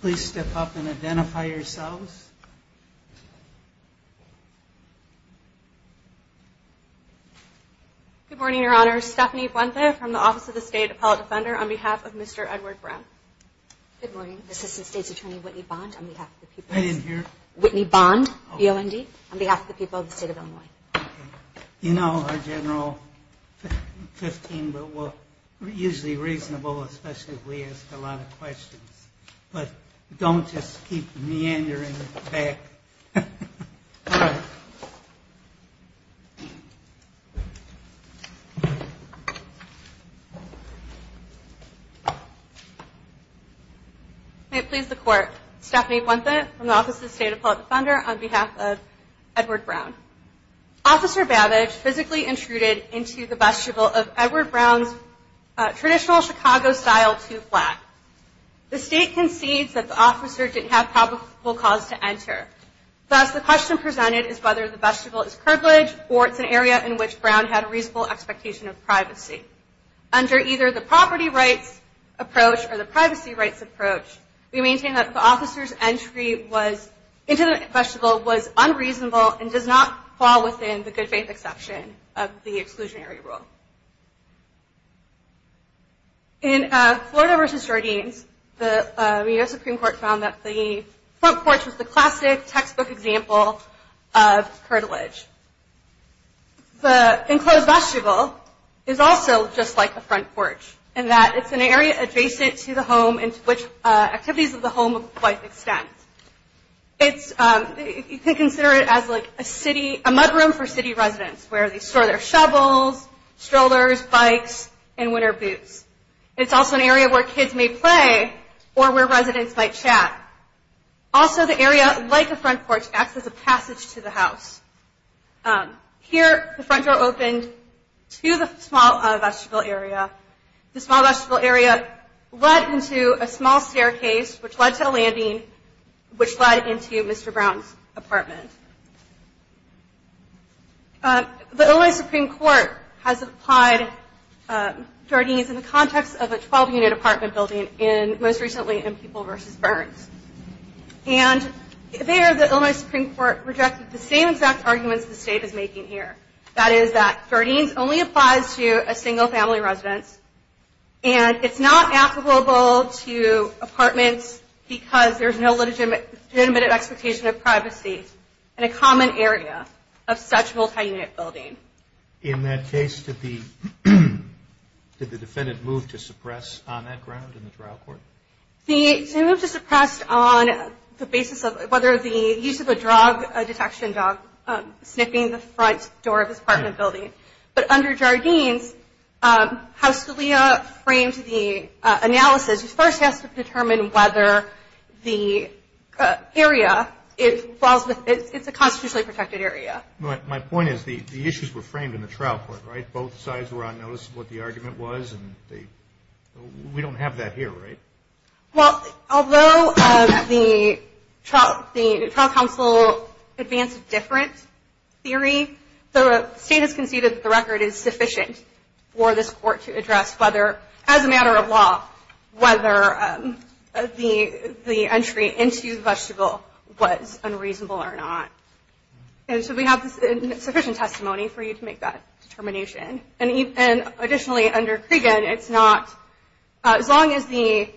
Please step up and identify yourselves. Good morning, Your Honor. Stephanie Buente from the Office of the State Appellate Defender on behalf of Mr. Edward Brown. Good morning. Assistant State's Attorney Whitney Bond on behalf of the people of the State of Illinois. You know our General 15, but we're usually reasonable, especially if we ask a lot of questions. But don't just keep meandering back. May it please the Court, Stephanie Buente from the Office of the State Appellate Defender on behalf of Edward Brown. Officer Babbage physically intruded into the vestibule of Edward Brown's traditional Chicago-style two-flat. The State concedes that the officer didn't have probable cause to enter. Thus, the question presented is whether the vestibule is privileged or it's an area in which Brown had a reasonable expectation of privacy. Under either the property rights approach or the privacy rights approach, we maintain that the officer's entry into the vestibule was unreasonable and does not fall within the good faith exception of the exclusionary rule. In Florida v. Jardines, the U.S. Supreme Court found that the front porch was the classic textbook example of curtilage. The enclosed vestibule is also just like a front porch in that it's an area adjacent to the home into which activities of the home quite extend. You can consider it as a mudroom for city residents where they store their shovels, strollers, bikes, and winter boots. It's also an area where kids may play or where residents might chat. Also, the area, like a front porch, acts as a passage to the house. Here, the front door opened to the small vestibule area. The small vestibule area led into a small staircase, which led to a landing, which led into Mr. Brown's apartment. The Illinois Supreme Court has applied Jardines in the context of a 12-unit apartment building, most recently in People v. Burns. There, the Illinois Supreme Court rejected the same exact arguments the State is making here. That is that Jardines only applies to a single-family residence, and it's not applicable to apartments because there's no legitimate expectation of privacy in a common area of such multi-unit building. In that case, did the defendant move to suppress on that ground in the trial court? He moved to suppress on the basis of whether the use of a drug detection dog sniffing the front door of his apartment building. But under Jardines, House Scalia framed the analysis. First, he has to determine whether the area it falls within, it's a constitutionally protected area. My point is the issues were framed in the trial court, right? Both sides were on notice of what the argument was, and we don't have that here, right? Well, although the trial counsel advanced a different theory, the State has conceded that the record is sufficient for this court to address whether, as a matter of law, whether the entry into the vegetable was unreasonable or not. And so we have sufficient testimony for you to make that determination. And additionally, under Cregan, it's not – as long as the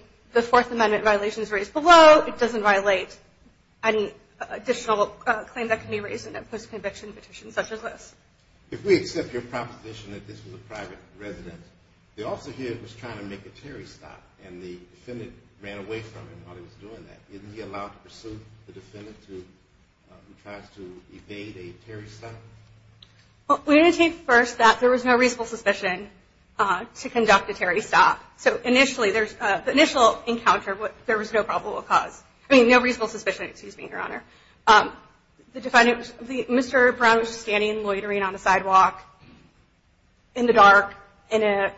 Fourth Amendment violation is raised below, it doesn't violate any additional claim that can be raised in a post-conviction petition such as this. If we accept your proposition that this was a private residence, the officer here was trying to make a Terry stop, and the defendant ran away from him while he was doing that. Isn't he allowed to pursue the defendant who tries to evade a Terry stop? Well, we're going to take first that there was no reasonable suspicion to conduct a Terry stop. So initially, there's – the initial encounter, there was no probable cause – I mean, no reasonable suspicion, excuse me, Your Honor. The defendant – Mr. Brown was just standing and loitering on the sidewalk in the dark in an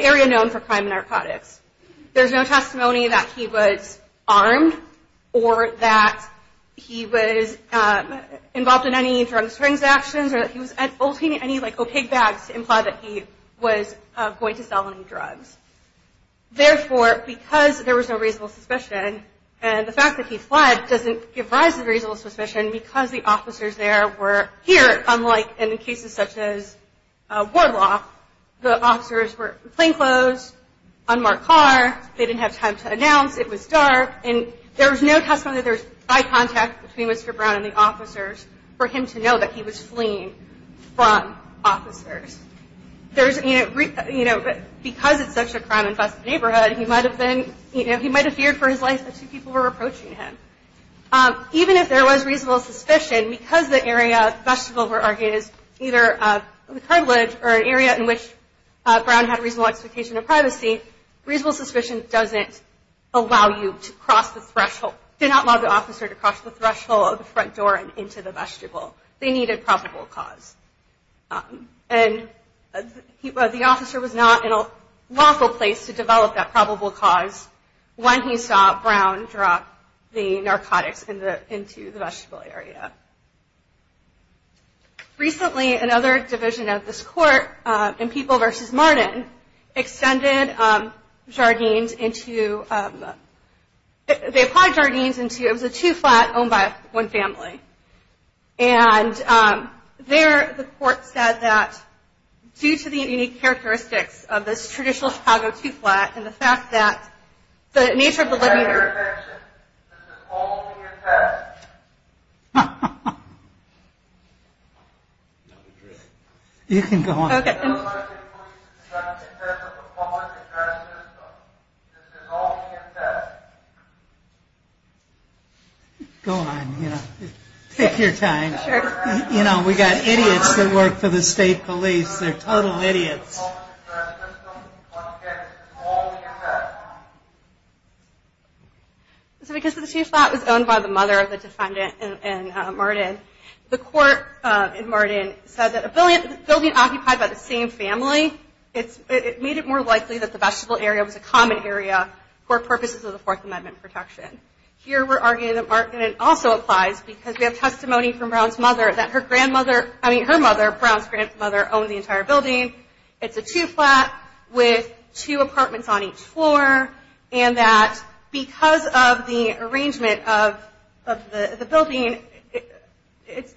area known for crime and narcotics. There's no testimony that he was armed or that he was involved in any drugs transactions or that he was holding any, like, opaque bags to imply that he was going to sell any drugs. Therefore, because there was no reasonable suspicion, and the fact that he fled doesn't give rise to reasonable suspicion because the officers there were here, unlike in cases such as Wardlock. The officers were plainclothes, unmarked car. They didn't have time to announce. It was dark, and there was no testimony that there was eye contact between Mr. Brown and the officers for him to know that he was fleeing from officers. There's – you know, because it's such a crime-infested neighborhood, he might have been – you know, he might have feared for his life that two people were approaching him. Even if there was reasonable suspicion, because the area – the vestibule, we're arguing, is either a curvilege or an area in which Brown had a reasonable expectation of privacy, reasonable suspicion doesn't allow you to cross the threshold – did not allow the officer to cross the threshold of the front door and into the vestibule. They needed probable cause. And the officer was not in a lawful place to develop that probable cause when he saw Brown drop the narcotics into the vestibule area. Recently, another division of this court, in People v. Martin, extended Jardines into – they applied Jardines into – it was a two-flat owned by one family. And there, the court said that due to the unique characteristics of this traditional Chicago two-flat and the fact that the nature of the living room – This is all being assessed. Ha, ha, ha. You can go on. This is all being assessed. Go on. Take your time. You know, we've got idiots that work for the state police. They're total idiots. This is all being assessed. So because the two-flat was owned by the mother of the defendant in Martin, the court in Martin said that a building occupied by the same family, it made it more likely that the vestibule area was a common area for purposes of the Fourth Amendment protection. Here, we're arguing that it also applies because we have testimony from Brown's mother that her grandmother – I mean, her mother, Brown's grandmother, owned the entire building. It's a two-flat with two apartments on each floor, and that because of the arrangement of the building,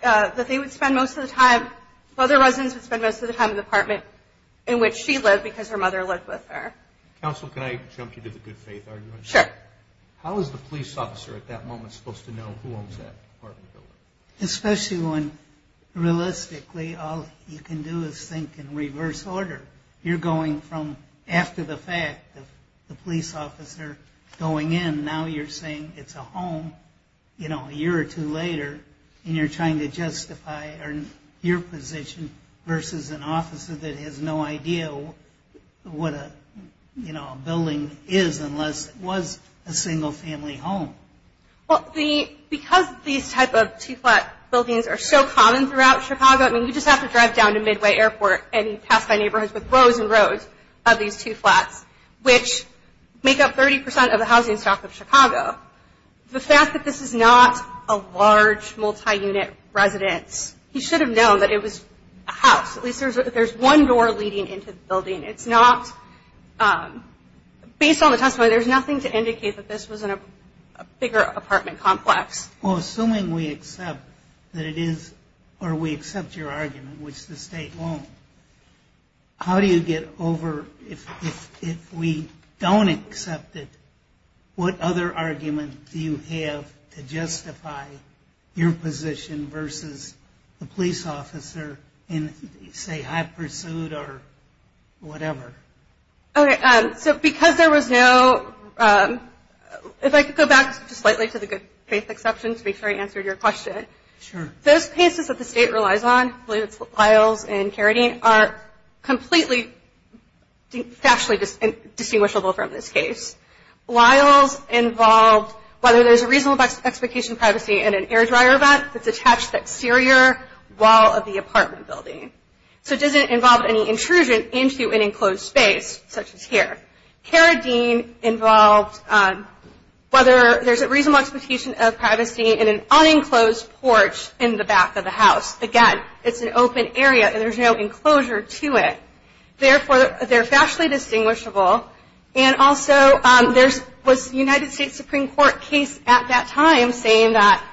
that they would spend most of the time – other residents would spend most of the time in the apartment in which she lived because her mother lived with her. Counsel, can I jump you to the good faith argument? Sure. How is the police officer at that moment supposed to know who owns that apartment building? Especially when, realistically, all you can do is think in reverse order. You're going from – after the fact, the police officer going in, now you're saying it's a home a year or two later, and you're trying to justify your position versus an officer that has no idea what a building is unless it was a single-family home. Well, because these type of two-flat buildings are so common throughout Chicago – I mean, you just have to drive down to Midway Airport and you pass by neighborhoods with rows and rows of these two flats, which make up 30 percent of the housing stock of Chicago. The fact that this is not a large, multi-unit residence – he should have known that it was a house. At least there's one door leading into the building. It's not – based on the testimony, there's nothing to indicate that this was a bigger apartment complex. Well, assuming we accept that it is – or we accept your argument, which the state won't, how do you get over – if we don't accept it, what other argument do you have to justify your position versus the police officer in, say, high pursuit or whatever? Okay, so because there was no – if I could go back just slightly to the good-faith exception to make sure I answered your question. Those cases that the state relies on – I believe it's Lyles and Carradine – are completely factually distinguishable from this case. Lyles involved whether there's a reasonable expectation of privacy in an air-dryer vet that's attached to the exterior wall of the apartment building. So it doesn't involve any intrusion into an enclosed space, such as here. Carradine involved whether there's a reasonable expectation of privacy in an unenclosed porch in the back of the house. Again, it's an open area, and there's no enclosure to it. Therefore, they're factually distinguishable. And also, there was a United States Supreme Court case at that time saying that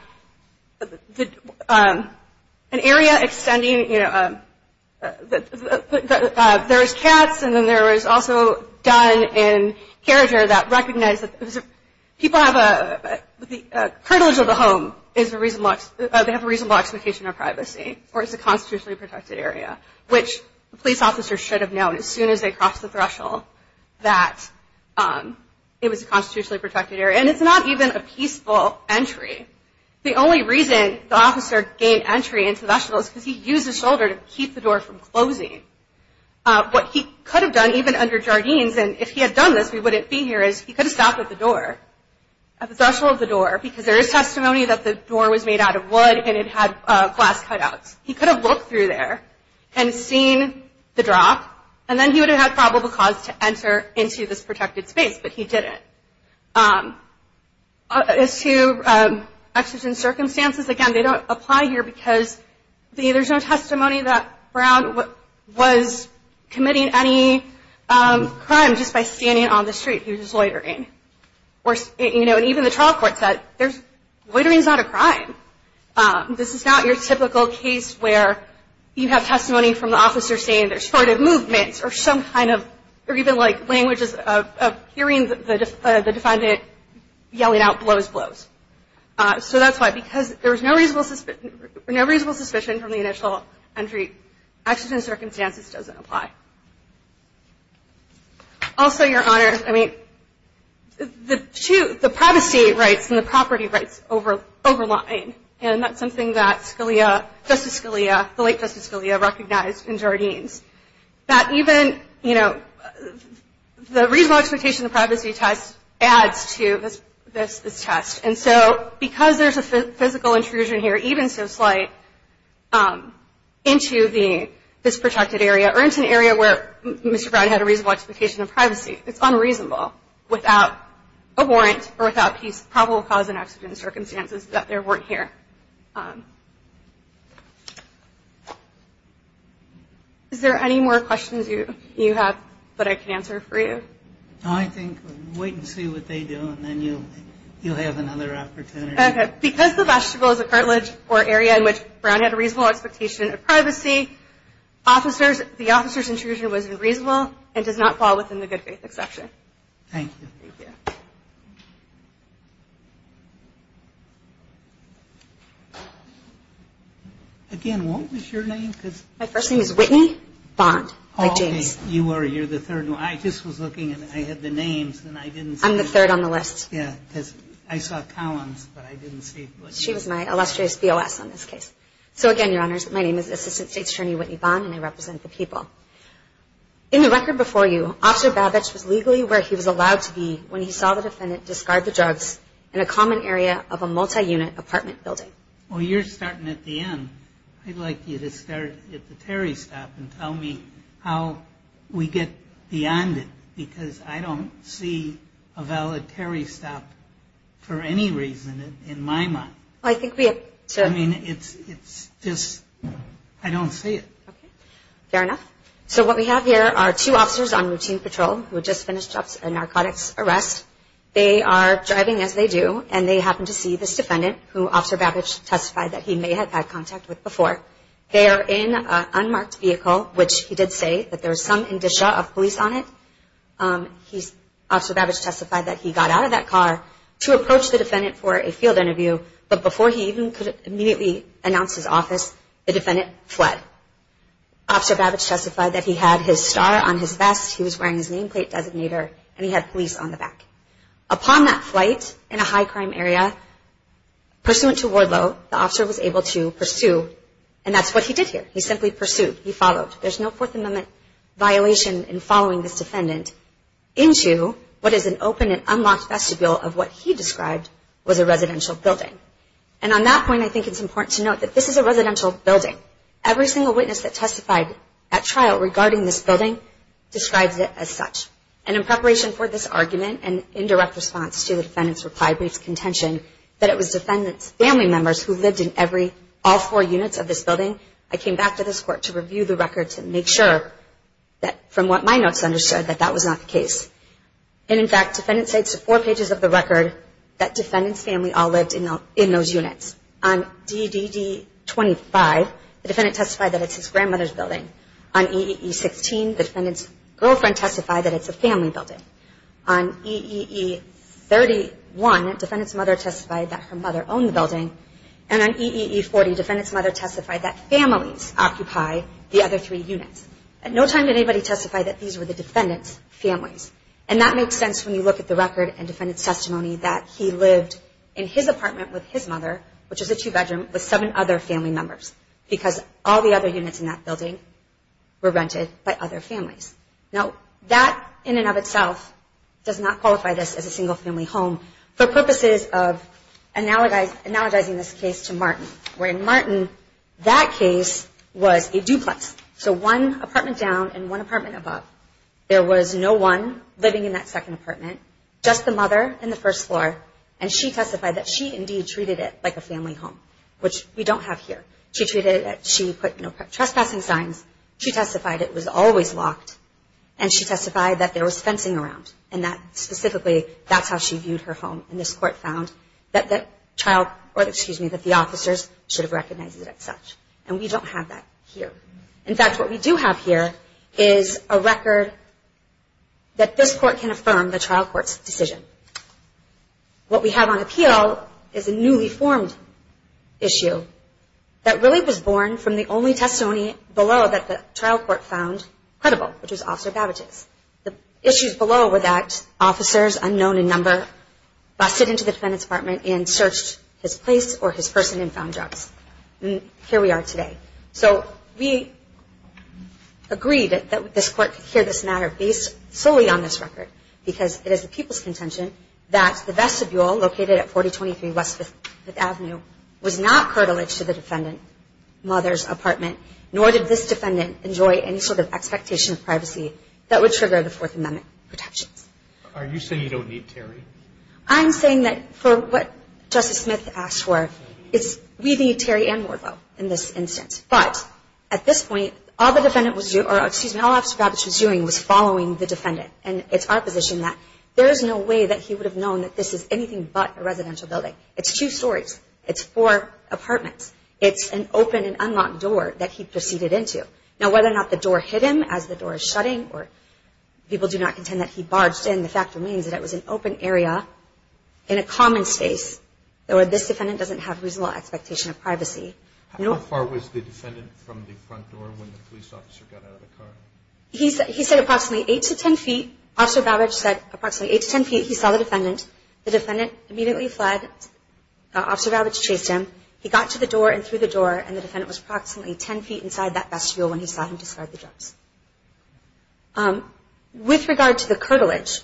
an area extending – there's cats, and then there was also done in Carradine that recognized that people have a – the curtilage of the home is a reasonable – they have a reasonable expectation of privacy, or it's a constitutionally protected area, which police officers should have known as soon as they crossed the threshold that it was a constitutionally protected area. And it's not even a peaceful entry. The only reason the officer gained entry into the threshold is because he used his shoulder to keep the door from closing. What he could have done, even under Jardines – and if he had done this, we wouldn't be here – is he could have stopped at the door, at the threshold of the door, because there is testimony that the door was made out of wood and it had glass cutouts. He could have looked through there and seen the drop, and then he would have had probable cause to enter into this protected space, but he didn't. As to exigent circumstances, again, they don't apply here because there's no testimony that Brown was committing any crime just by standing on the street. He was just loitering. And even the trial court said, loitering is not a crime. This is not your typical case where you have testimony from the officer saying there's sort of movements or some kind of – or even, like, languages of hearing the defendant yelling out, blows, blows. So that's why – because there was no reasonable suspicion from the initial entry. Exigent circumstances doesn't apply. Also, Your Honor, I mean, the two – the privacy rights and the property rights over – overlying, and that's something that Scalia – Justice Scalia, the late Justice Scalia, recognized in Jardine's, that even, you know, the reasonable expectation of privacy test adds to this test. And so because there's a physical intrusion here, even so slight, into the – this protected area or into an area where Mr. Brown had a reasonable expectation of privacy, it's unreasonable without a warrant or without probable cause and exigent circumstances that there weren't here. Is there any more questions you have that I can answer for you? No, I think – wait and see what they do, and then you'll have another opportunity. Okay. Because the vestibule is a cartilage or area in which Brown had a reasonable expectation of privacy, officers – the officer's intrusion was unreasonable and does not fall within the good faith exception. Thank you. Thank you. Again, what was your name? My first name is Whitney Bond, like James. Okay. You were – you're the third one. I just was looking, and I had the names, and I didn't see – I'm the third on the list. Yeah, because I saw Collins, but I didn't see Whitney. She was my illustrious BOS on this case. So again, Your Honors, my name is Assistant State's Attorney Whitney Bond, and I represent the people. In the record before you, Officer Babich was legally where he was allowed to be when he saw the defendant discard the drugs in a common area of a multi-unit apartment building. Well, you're starting at the end. I'd like you to start at the Terry stop and tell me how we get beyond it, because I don't see a valid Terry stop for any reason in my mind. Well, I think we have to – I mean, it's just – I don't see it. Okay. Fair enough. So what we have here are two officers on routine patrol who had just finished up a narcotics arrest. They are driving as they do, and they happen to see this defendant, who Officer Babich testified that he may have had contact with before. They are in an unmarked vehicle, which he did say that there was some indicia of police on it. Officer Babich testified that he got out of that car to approach the defendant for a field interview, but before he even could immediately announce his office, the defendant fled. Officer Babich testified that he had his star on his vest, he was wearing his nameplate designator, and he had police on the back. Upon that flight in a high-crime area, pursuant to ward law, the officer was able to pursue, and that's what he did here. He simply pursued. He followed. There's no Fourth Amendment violation in following this defendant into what is an open and unlocked vestibule of what he described was a residential building. And on that point, I think it's important to note that this is a residential building. Every single witness that testified at trial regarding this building describes it as such. And in preparation for this argument and indirect response to the defendant's reply brief's contention that it was defendants' family members who lived in all four units of this building, I came back to this court to review the records and make sure that, from what my notes understood, that that was not the case. And, in fact, defendants say it's the four pages of the record that defendants' family all lived in those units. On DDD-25, the defendant testified that it's his grandmother's building. On EEE-16, the defendant's girlfriend testified that it's a family building. On EEE-31, the defendant's mother testified that her mother owned the building. And on EEE-40, the defendant's mother testified that families occupy the other three units. At no time did anybody testify that these were the defendant's families. And that makes sense when you look at the record and defendant's testimony that he lived in his apartment with his mother, which is a two-bedroom, with seven other family members because all the other units in that building were rented by other families. Now, that, in and of itself, does not qualify this as a single-family home for purposes of analogizing this case to Martin, where, in Martin, that case was a duplex. So one apartment down and one apartment above. There was no one living in that second apartment, just the mother in the first floor, and she testified that she, indeed, treated it like a family home, which we don't have here. She put trespassing signs. She testified it was always locked, and she testified that there was fencing around, and that, specifically, that's how she viewed her home. And this court found that the officers should have recognized it as such. And we don't have that here. In fact, what we do have here is a record that this court can affirm the trial court's decision. What we have on appeal is a newly formed issue that really was born from the only testimony below that the trial court found credible, which was Officer Babbage's. The issues below were that officers unknown in number busted into the defendant's apartment and searched his place or his person and found drugs. And here we are today. So we agreed that this court could hear this matter based solely on this record, because it is the people's contention that the vestibule located at 4023 West 5th Avenue was not curtilage to the defendant's mother's apartment, nor did this defendant enjoy any sort of expectation of privacy that would trigger the Fourth Amendment protections. Are you saying you don't need Terry? I'm saying that for what Justice Smith asked for, we need Terry and Wardlow in this instance. But at this point, all Officer Babbage was doing was following the defendant. And it's our position that there is no way that he would have known that this is anything but a residential building. It's two stories. It's four apartments. It's an open and unlocked door that he proceeded into. Now, whether or not the door hit him as the door is shutting or people do not contend that he barged in, the fact remains that it was an open area in a common space, or this defendant doesn't have reasonable expectation of privacy. How far was the defendant from the front door when the police officer got out of the car? He said approximately 8 to 10 feet. Officer Babbage said approximately 8 to 10 feet. He saw the defendant. The defendant immediately fled. Officer Babbage chased him. He got to the door and through the door, and the defendant was approximately 10 feet inside that vestibule when he saw him discard the drugs. With regard to the curtilage,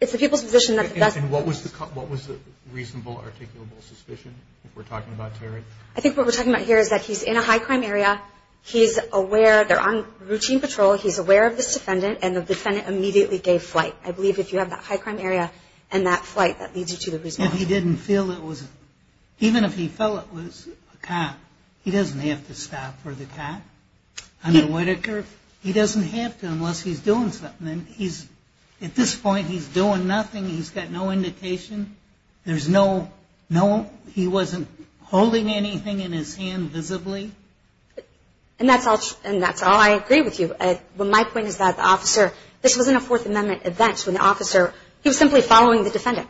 it's the people's position that the best – And what was the reasonable articulable suspicion if we're talking about Terry? I think what we're talking about here is that he's in a high-crime area. He's aware. They're on routine patrol. He's aware of this defendant, and the defendant immediately gave flight. I believe if you have that high-crime area and that flight, that leads you to the reasonable – If he didn't feel it was – even if he felt it was a cop, he doesn't have to stop for the cop. Under Whitaker, he doesn't have to unless he's doing something. And he's – at this point, he's doing nothing. He's got no indication. There's no – he wasn't holding anything in his hand visibly. And that's all I agree with you. My point is that the officer – this was in a Fourth Amendment event, when the officer – he was simply following the defendant.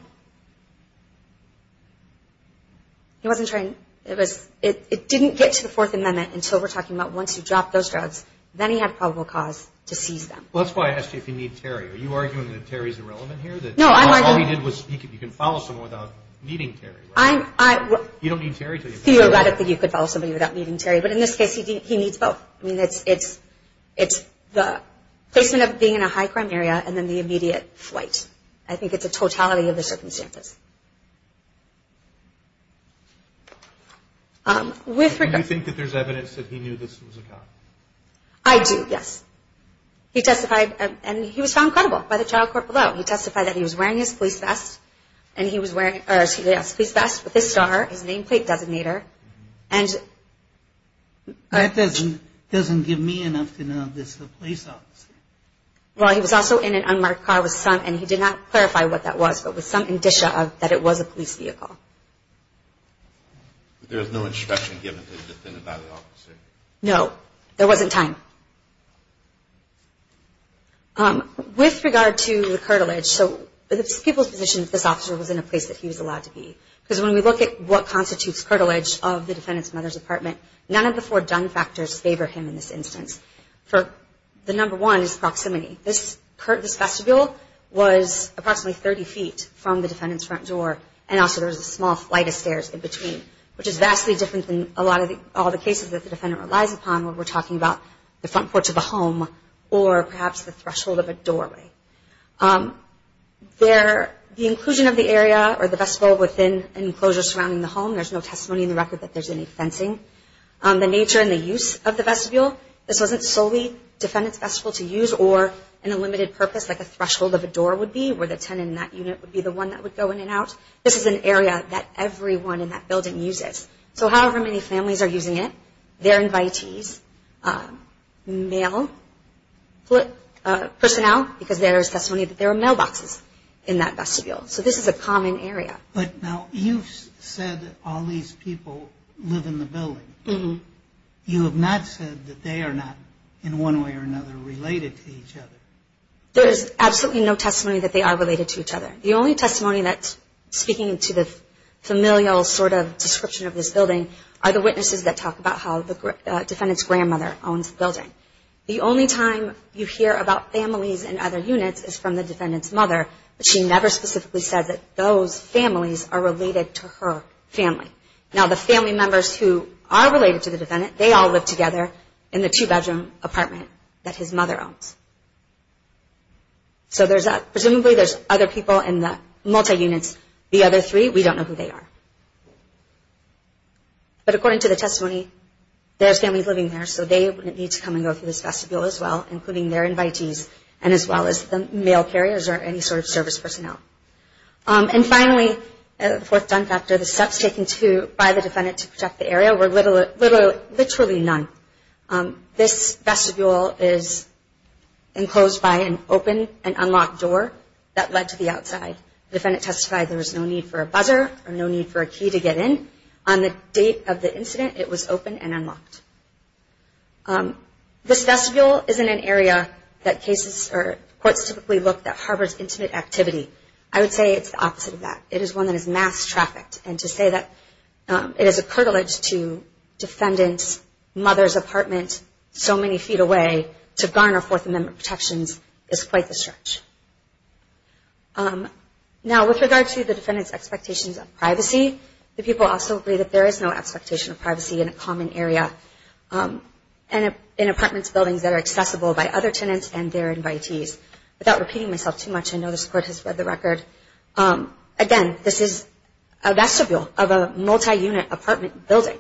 He wasn't trying – it was – it didn't get to the Fourth Amendment until we're talking about once you drop those drugs. Then he had probable cause to seize them. Well, that's why I asked you if you need Terry. Are you arguing that Terry's irrelevant here? No, I'm arguing – All he did was – you can follow someone without needing Terry, right? I'm – I – You don't need Terry to – I feel about it that you could follow somebody without needing Terry. But in this case, he needs both. I mean, it's – it's the placement of being in a high-crime area and then the immediate flight. I think it's a totality of the circumstances. With regard – Do you think that there's evidence that he knew this was a cop? I do, yes. He testified, and he was found credible by the trial court below. He testified that he was wearing his police vest, and he was wearing – or his police vest with his star, his nameplate designator, and – That doesn't – doesn't give me enough to know this is a police officer. Well, he was also in an unmarked car with some – and he did not clarify what that was, but with some indicia of that it was a police vehicle. There was no instruction given to defend a bylaw officer? No. There wasn't time. With regard to the curtilage, so it's people's position that this officer was in a place that he was allowed to be. Because when we look at what constitutes curtilage of the defendant's mother's apartment, none of the four done factors favor him in this instance. The number one is proximity. This vestibule was approximately 30 feet from the defendant's front door, and also there was a small flight of stairs in between, which is vastly different than a lot of the – all the cases that the defendant relies upon when we're talking about the front porch of a home or perhaps the threshold of a doorway. There – the inclusion of the area or the vestibule within an enclosure surrounding the home, there's no testimony in the record that there's any fencing. The nature and the use of the vestibule, this wasn't solely defendant's vestibule to use or an unlimited purpose like a threshold of a door would be where the tenant in that unit would be the one that would go in and out. This is an area that everyone in that building uses. So however many families are using it, their invitees, male personnel, because there is testimony that there are mailboxes in that vestibule. So this is a common area. But now you've said all these people live in the building. Mm-hmm. You have not said that they are not in one way or another related to each other. There is absolutely no testimony that they are related to each other. The only testimony that's speaking to the familial sort of description of this building are the witnesses that talk about how the defendant's grandmother owns the building. The only time you hear about families in other units is from the defendant's mother, but she never specifically says that those families are related to her family. Now the family members who are related to the defendant, they all live together in the two-bedroom apartment that his mother owns. So presumably there's other people in the multi-units. The other three, we don't know who they are. But according to the testimony, there's families living there, so they would need to come and go through this vestibule as well, including their invitees, and as well as the mail carriers or any sort of service personnel. And finally, the fourth done factor, the steps taken by the defendant to protect the area were literally none. This vestibule is enclosed by an open and unlocked door that led to the outside. The defendant testified there was no need for a buzzer or no need for a key to get in. On the date of the incident, it was open and unlocked. This vestibule isn't an area that courts typically look that harbors intimate activity. I would say it's the opposite of that. It is one that is mass-trafficked, and to say that it is a curtilage to defendants' mother's apartment so many feet away to garner Fourth Amendment protections is quite the stretch. Now with regard to the defendant's expectations of privacy, the people also agree that there is no expectation of privacy in a common area and in apartments and buildings that are accessible by other tenants and their invitees. Without repeating myself too much, I know the court has read the record, again, this is a vestibule of a multi-unit apartment building.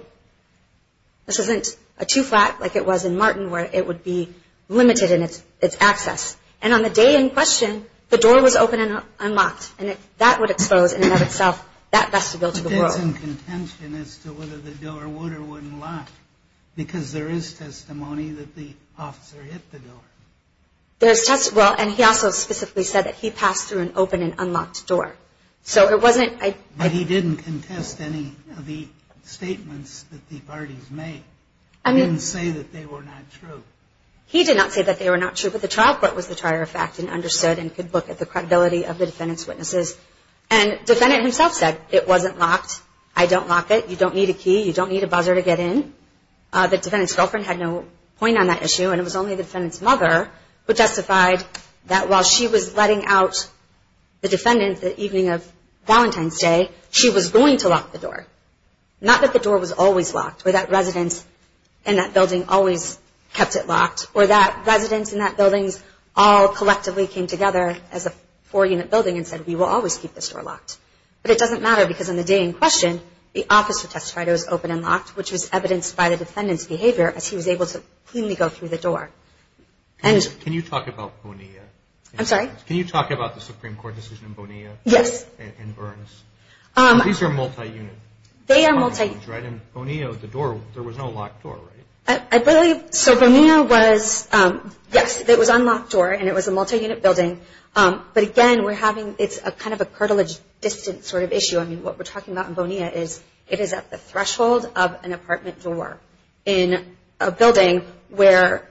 This isn't a two-flat like it was in Martin where it would be limited in its access. And on the day in question, the door was open and unlocked, and that would expose, in and of itself, that vestibule to the world. But there's some contention as to whether the door would or wouldn't lock because there is testimony that the officer hit the door. There's testimony. Well, and he also specifically said that he passed through an open and unlocked door. But he didn't contest any of the statements that the parties made. He didn't say that they were not true. He did not say that they were not true, but the child court was the trier of fact and understood and could look at the credibility of the defendant's witnesses. And the defendant himself said, it wasn't locked. I don't lock it. You don't need a key. You don't need a buzzer to get in. The defendant's girlfriend had no point on that issue, and it was only the defendant's mother who justified that while she was letting out the defendant the evening of Valentine's Day, she was going to lock the door. Or that residents in that building all collectively came together as a four-unit building and said, we will always keep this door locked. But it doesn't matter because on the day in question, the officer testified it was open and locked, which was evidenced by the defendant's behavior as he was able to cleanly go through the door. Can you talk about Bonilla? I'm sorry? Can you talk about the Supreme Court decision in Bonilla? Yes. And Burns. These are multi-unit. They are multi-unit. And Bonilla, the door, there was no locked door, right? So Bonilla was, yes, it was unlocked door, and it was a multi-unit building. But again, we're having, it's kind of a cartilage distance sort of issue. I mean, what we're talking about in Bonilla is it is at the threshold of an apartment door in a building where,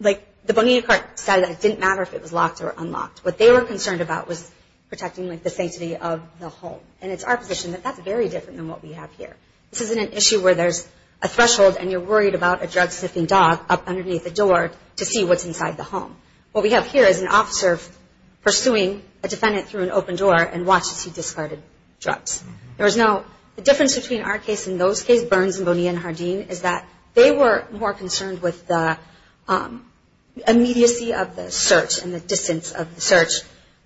like, the Bonilla court said that it didn't matter if it was locked or unlocked. What they were concerned about was protecting, like, the sanctity of the home. And it's our position that that's very different than what we have here. This isn't an issue where there's a threshold, and you're worried about a drug-sniffing dog up underneath the door to see what's inside the home. What we have here is an officer pursuing a defendant through an open door and watches he discarded drugs. There was no difference between our case and those cases, Burns and Bonilla and Hardeen, is that they were more concerned with the immediacy of the search and the distance of the search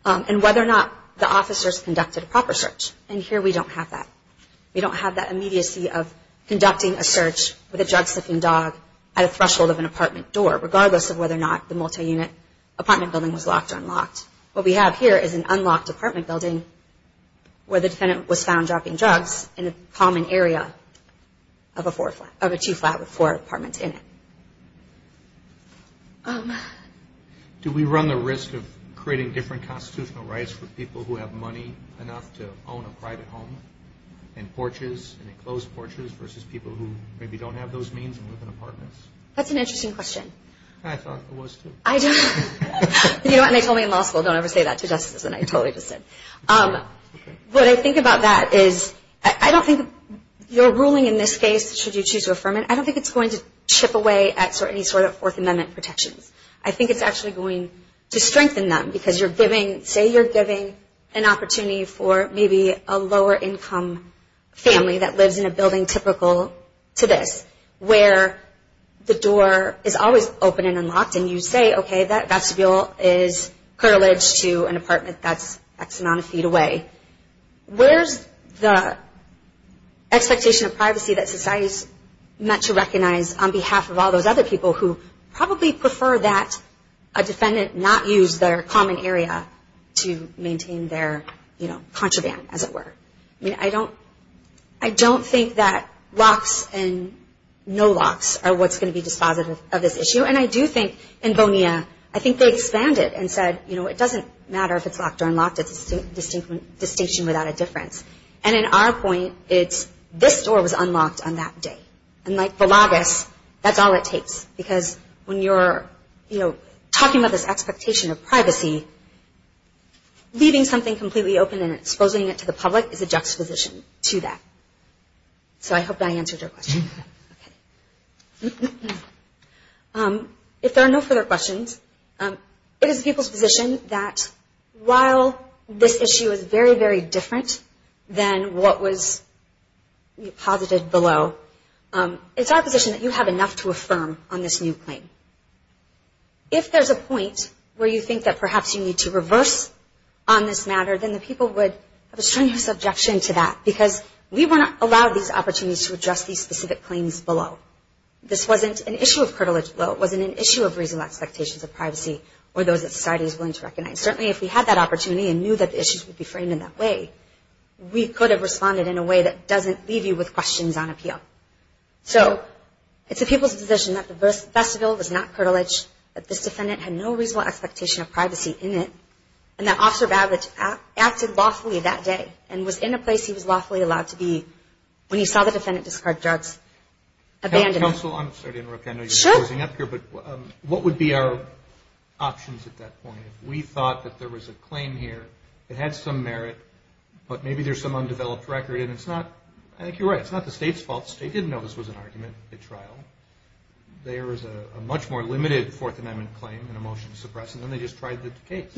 and whether or not the officers conducted a proper search. And here we don't have that. We don't have that immediacy of conducting a search with a drug-sniffing dog at a threshold of an apartment door, regardless of whether or not the multi-unit apartment building was locked or unlocked. What we have here is an unlocked apartment building where the defendant was found dropping drugs in a common area of a two-flat with four apartments in it. Do we run the risk of creating different constitutional rights for people who have money enough to own a private home and porches, enclosed porches, versus people who maybe don't have those means and live in apartments? That's an interesting question. I thought it was, too. You know what? They told me in law school, don't ever say that to justices, and I totally disagree. What I think about that is I don't think your ruling in this case, should you choose to affirm it, I don't think it's going to chip away at any sort of Fourth Amendment protections. I think it's actually going to strengthen them, because say you're giving an opportunity for maybe a lower-income family that lives in a building typical to this, where the door is always open and unlocked, and you say, okay, that vestibule is curled to an apartment that's X amount of feet away. Where's the expectation of privacy that society is meant to recognize on behalf of all those other people who probably prefer that a defendant not use their common area to maintain their contraband, as it were? I mean, I don't think that locks and no locks are what's going to be dispositive of this issue, and I do think in Bonilla, I think they expanded and said, you know, it doesn't matter if it's locked or unlocked, it's a distinction without a difference. And in our point, it's this door was unlocked on that day. And like the loggers, that's all it takes, because when you're, you know, talking about this expectation of privacy, leaving something completely open and exposing it to the public is a juxtaposition to that. So I hope I answered your question. Okay. If there are no further questions, it is people's position that while this issue is very, very different than what was posited below, it's our position that you have enough to affirm on this new claim. If there's a point where you think that perhaps you need to reverse on this matter, then the people would have a strenuous objection to that, because we were not allowed these opportunities to address these specific claims below. This wasn't an issue of privilege below. It wasn't an issue of reasonable expectations of privacy or those that society is willing to recognize. Certainly if we had that opportunity and knew that the issues would be framed in that way, we could have responded in a way that doesn't leave you with questions on appeal. So it's the people's position that the vestibule was not privileged, that this defendant had no reasonable expectation of privacy in it, and that Officer Babich acted lawfully that day and was in a place he was lawfully allowed to be when he saw the defendant discard drugs, abandon it. Counsel, I'm sorry to interrupt. I know you're closing up here, but what would be our options at that point? If we thought that there was a claim here that had some merit, but maybe there's some undeveloped record, and it's not, I think you're right, it's not the state's fault. The state didn't know this was an argument at trial. There is a much more limited Fourth Amendment claim in a motion to suppress, and then they just tried the case.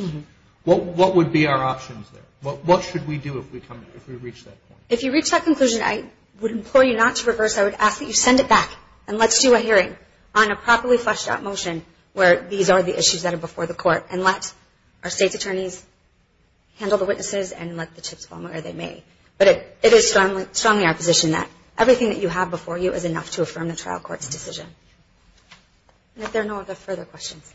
What would be our options there? What should we do if we reach that point? If you reach that conclusion, I would implore you not to reverse. I would ask that you send it back, and let's do a hearing on a properly fleshed-out motion where these are the issues that are before the court, and let our state's attorneys handle the witnesses and let the chips fall where they may. But it is strongly our position that everything that you have before you is enough to affirm the trial court's decision. If there are no other further questions.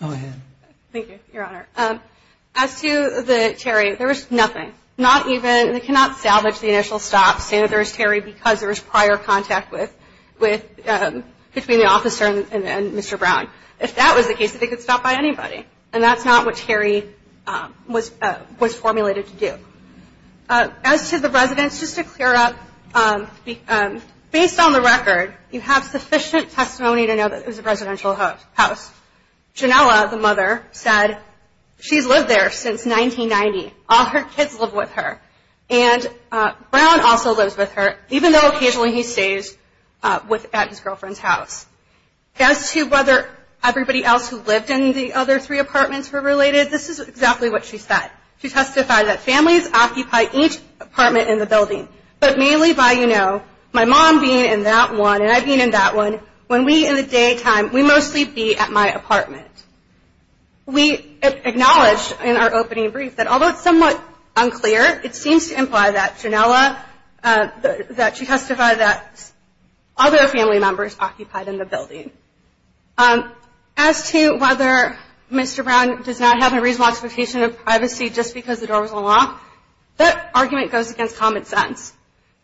Go ahead. Thank you, Your Honor. As to the Terry, there was nothing. Not even, they cannot salvage the initial stop, say that there was Terry because there was prior contact with, between the officer and Mr. Brown. If that was the case, they could stop by anybody. And that's not what Terry was formulated to do. As to the residents, just to clear up, based on the record, you have sufficient testimony to know that it was a residential house. Janella, the mother, said she's lived there since 1990. All her kids live with her. And Brown also lives with her, even though occasionally he stays at his girlfriend's house. As to whether everybody else who lived in the other three apartments were related, this is exactly what she said. She testified that families occupy each apartment in the building, but mainly by, you know, my mom being in that one and I being in that one, when we, in the daytime, we mostly be at my apartment. We acknowledged in our opening brief that, although it's somewhat unclear, it seems to imply that Janella, that she testified that other family members occupied in the building. As to whether Mr. Brown does not have a reasonable expectation of privacy just because the door was unlocked, that argument goes against common sense.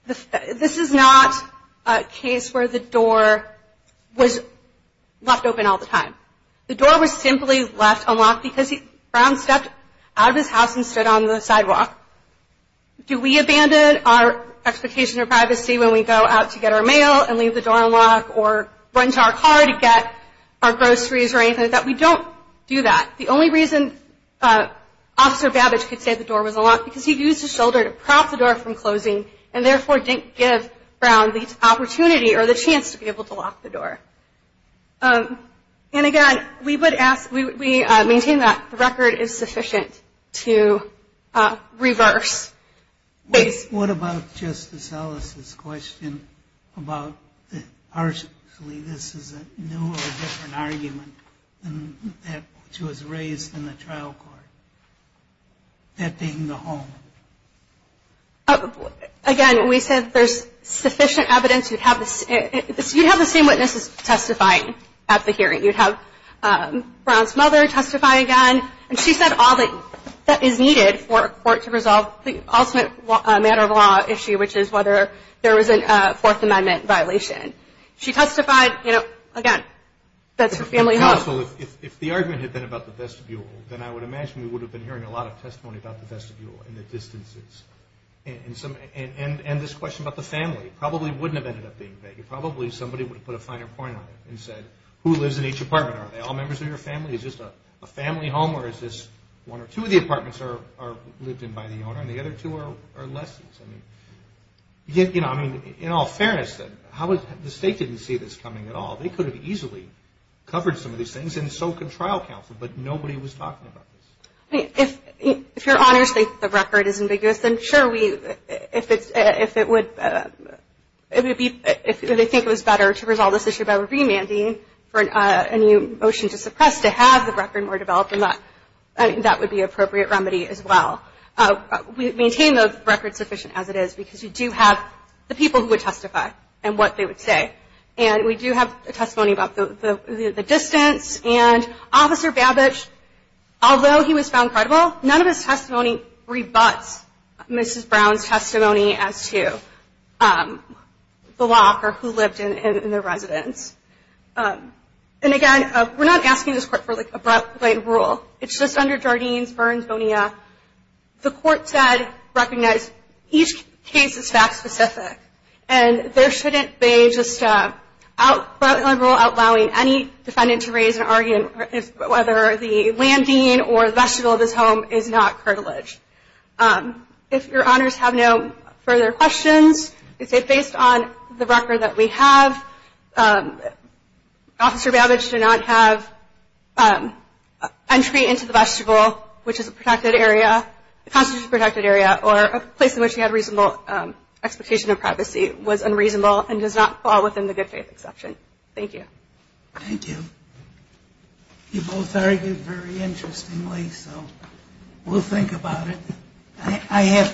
This is not a case where the door was left open all the time. The door was simply left unlocked because Brown stepped out of his house and stood on the sidewalk. Do we abandon our expectation of privacy when we go out to get our mail and leave the door unlocked or run to our car to get our groceries or anything like that? We don't do that. The only reason Officer Babbage could say the door was unlocked because he used his shoulder to prop the door from closing and, therefore, didn't give Brown the opportunity or the chance to be able to lock the door. And, again, we would ask, we maintain that the record is sufficient to reverse. What about Justice Ellis's question about that partially this is a new or different argument than that which was raised in the trial court, that being the home? Again, we said there's sufficient evidence. You'd have the same witnesses testify at the hearing. You'd have Brown's mother testify again. And she said all that is needed for a court to resolve the ultimate matter of law issue, which is whether there was a Fourth Amendment violation. She testified, again, that's her family home. Counsel, if the argument had been about the vestibule, then I would imagine we would have been hearing a lot of testimony about the vestibule and the distances. And this question about the family probably wouldn't have ended up being vague. Probably somebody would have put a finer point on it and said, who lives in each apartment? Are they all members of your family? Is this a family home or is this one or two of the apartments are lived in by the owner and the other two are less? I mean, in all fairness, the state didn't see this coming at all. They could have easily covered some of these things and so could trial counsel, but nobody was talking about this. If Your Honor states the record is ambiguous, then sure, if they think it was better to resolve this issue by remanding for a new motion to suppress, to have the record more developed, then that would be an appropriate remedy as well. We maintain the record sufficient as it is because you do have the people who would testify and what they would say. And we do have testimony about the distance. And Officer Babich, although he was found credible, none of his testimony rebuts Mrs. Brown's testimony as to the locker who lived in the residence. And again, we're not asking this Court for a broad-blade rule. It's just under Jardines, Burns, Bonilla. The Court said recognize each case as fact-specific. And there shouldn't be just a broad-blade rule outlawing any defendant to raise and argue whether the land dean or the vestibule of his home is not curtilage. If Your Honors have no further questions, it's based on the record that we have Officer Babich did not have entry into the vestibule, which is a protected area, a constitutionally protected area, or a place in which he had reasonable expectation of privacy, was unreasonable and does not fall within the good faith exception. Thank you. Thank you. You both argued very interestingly, so we'll think about it.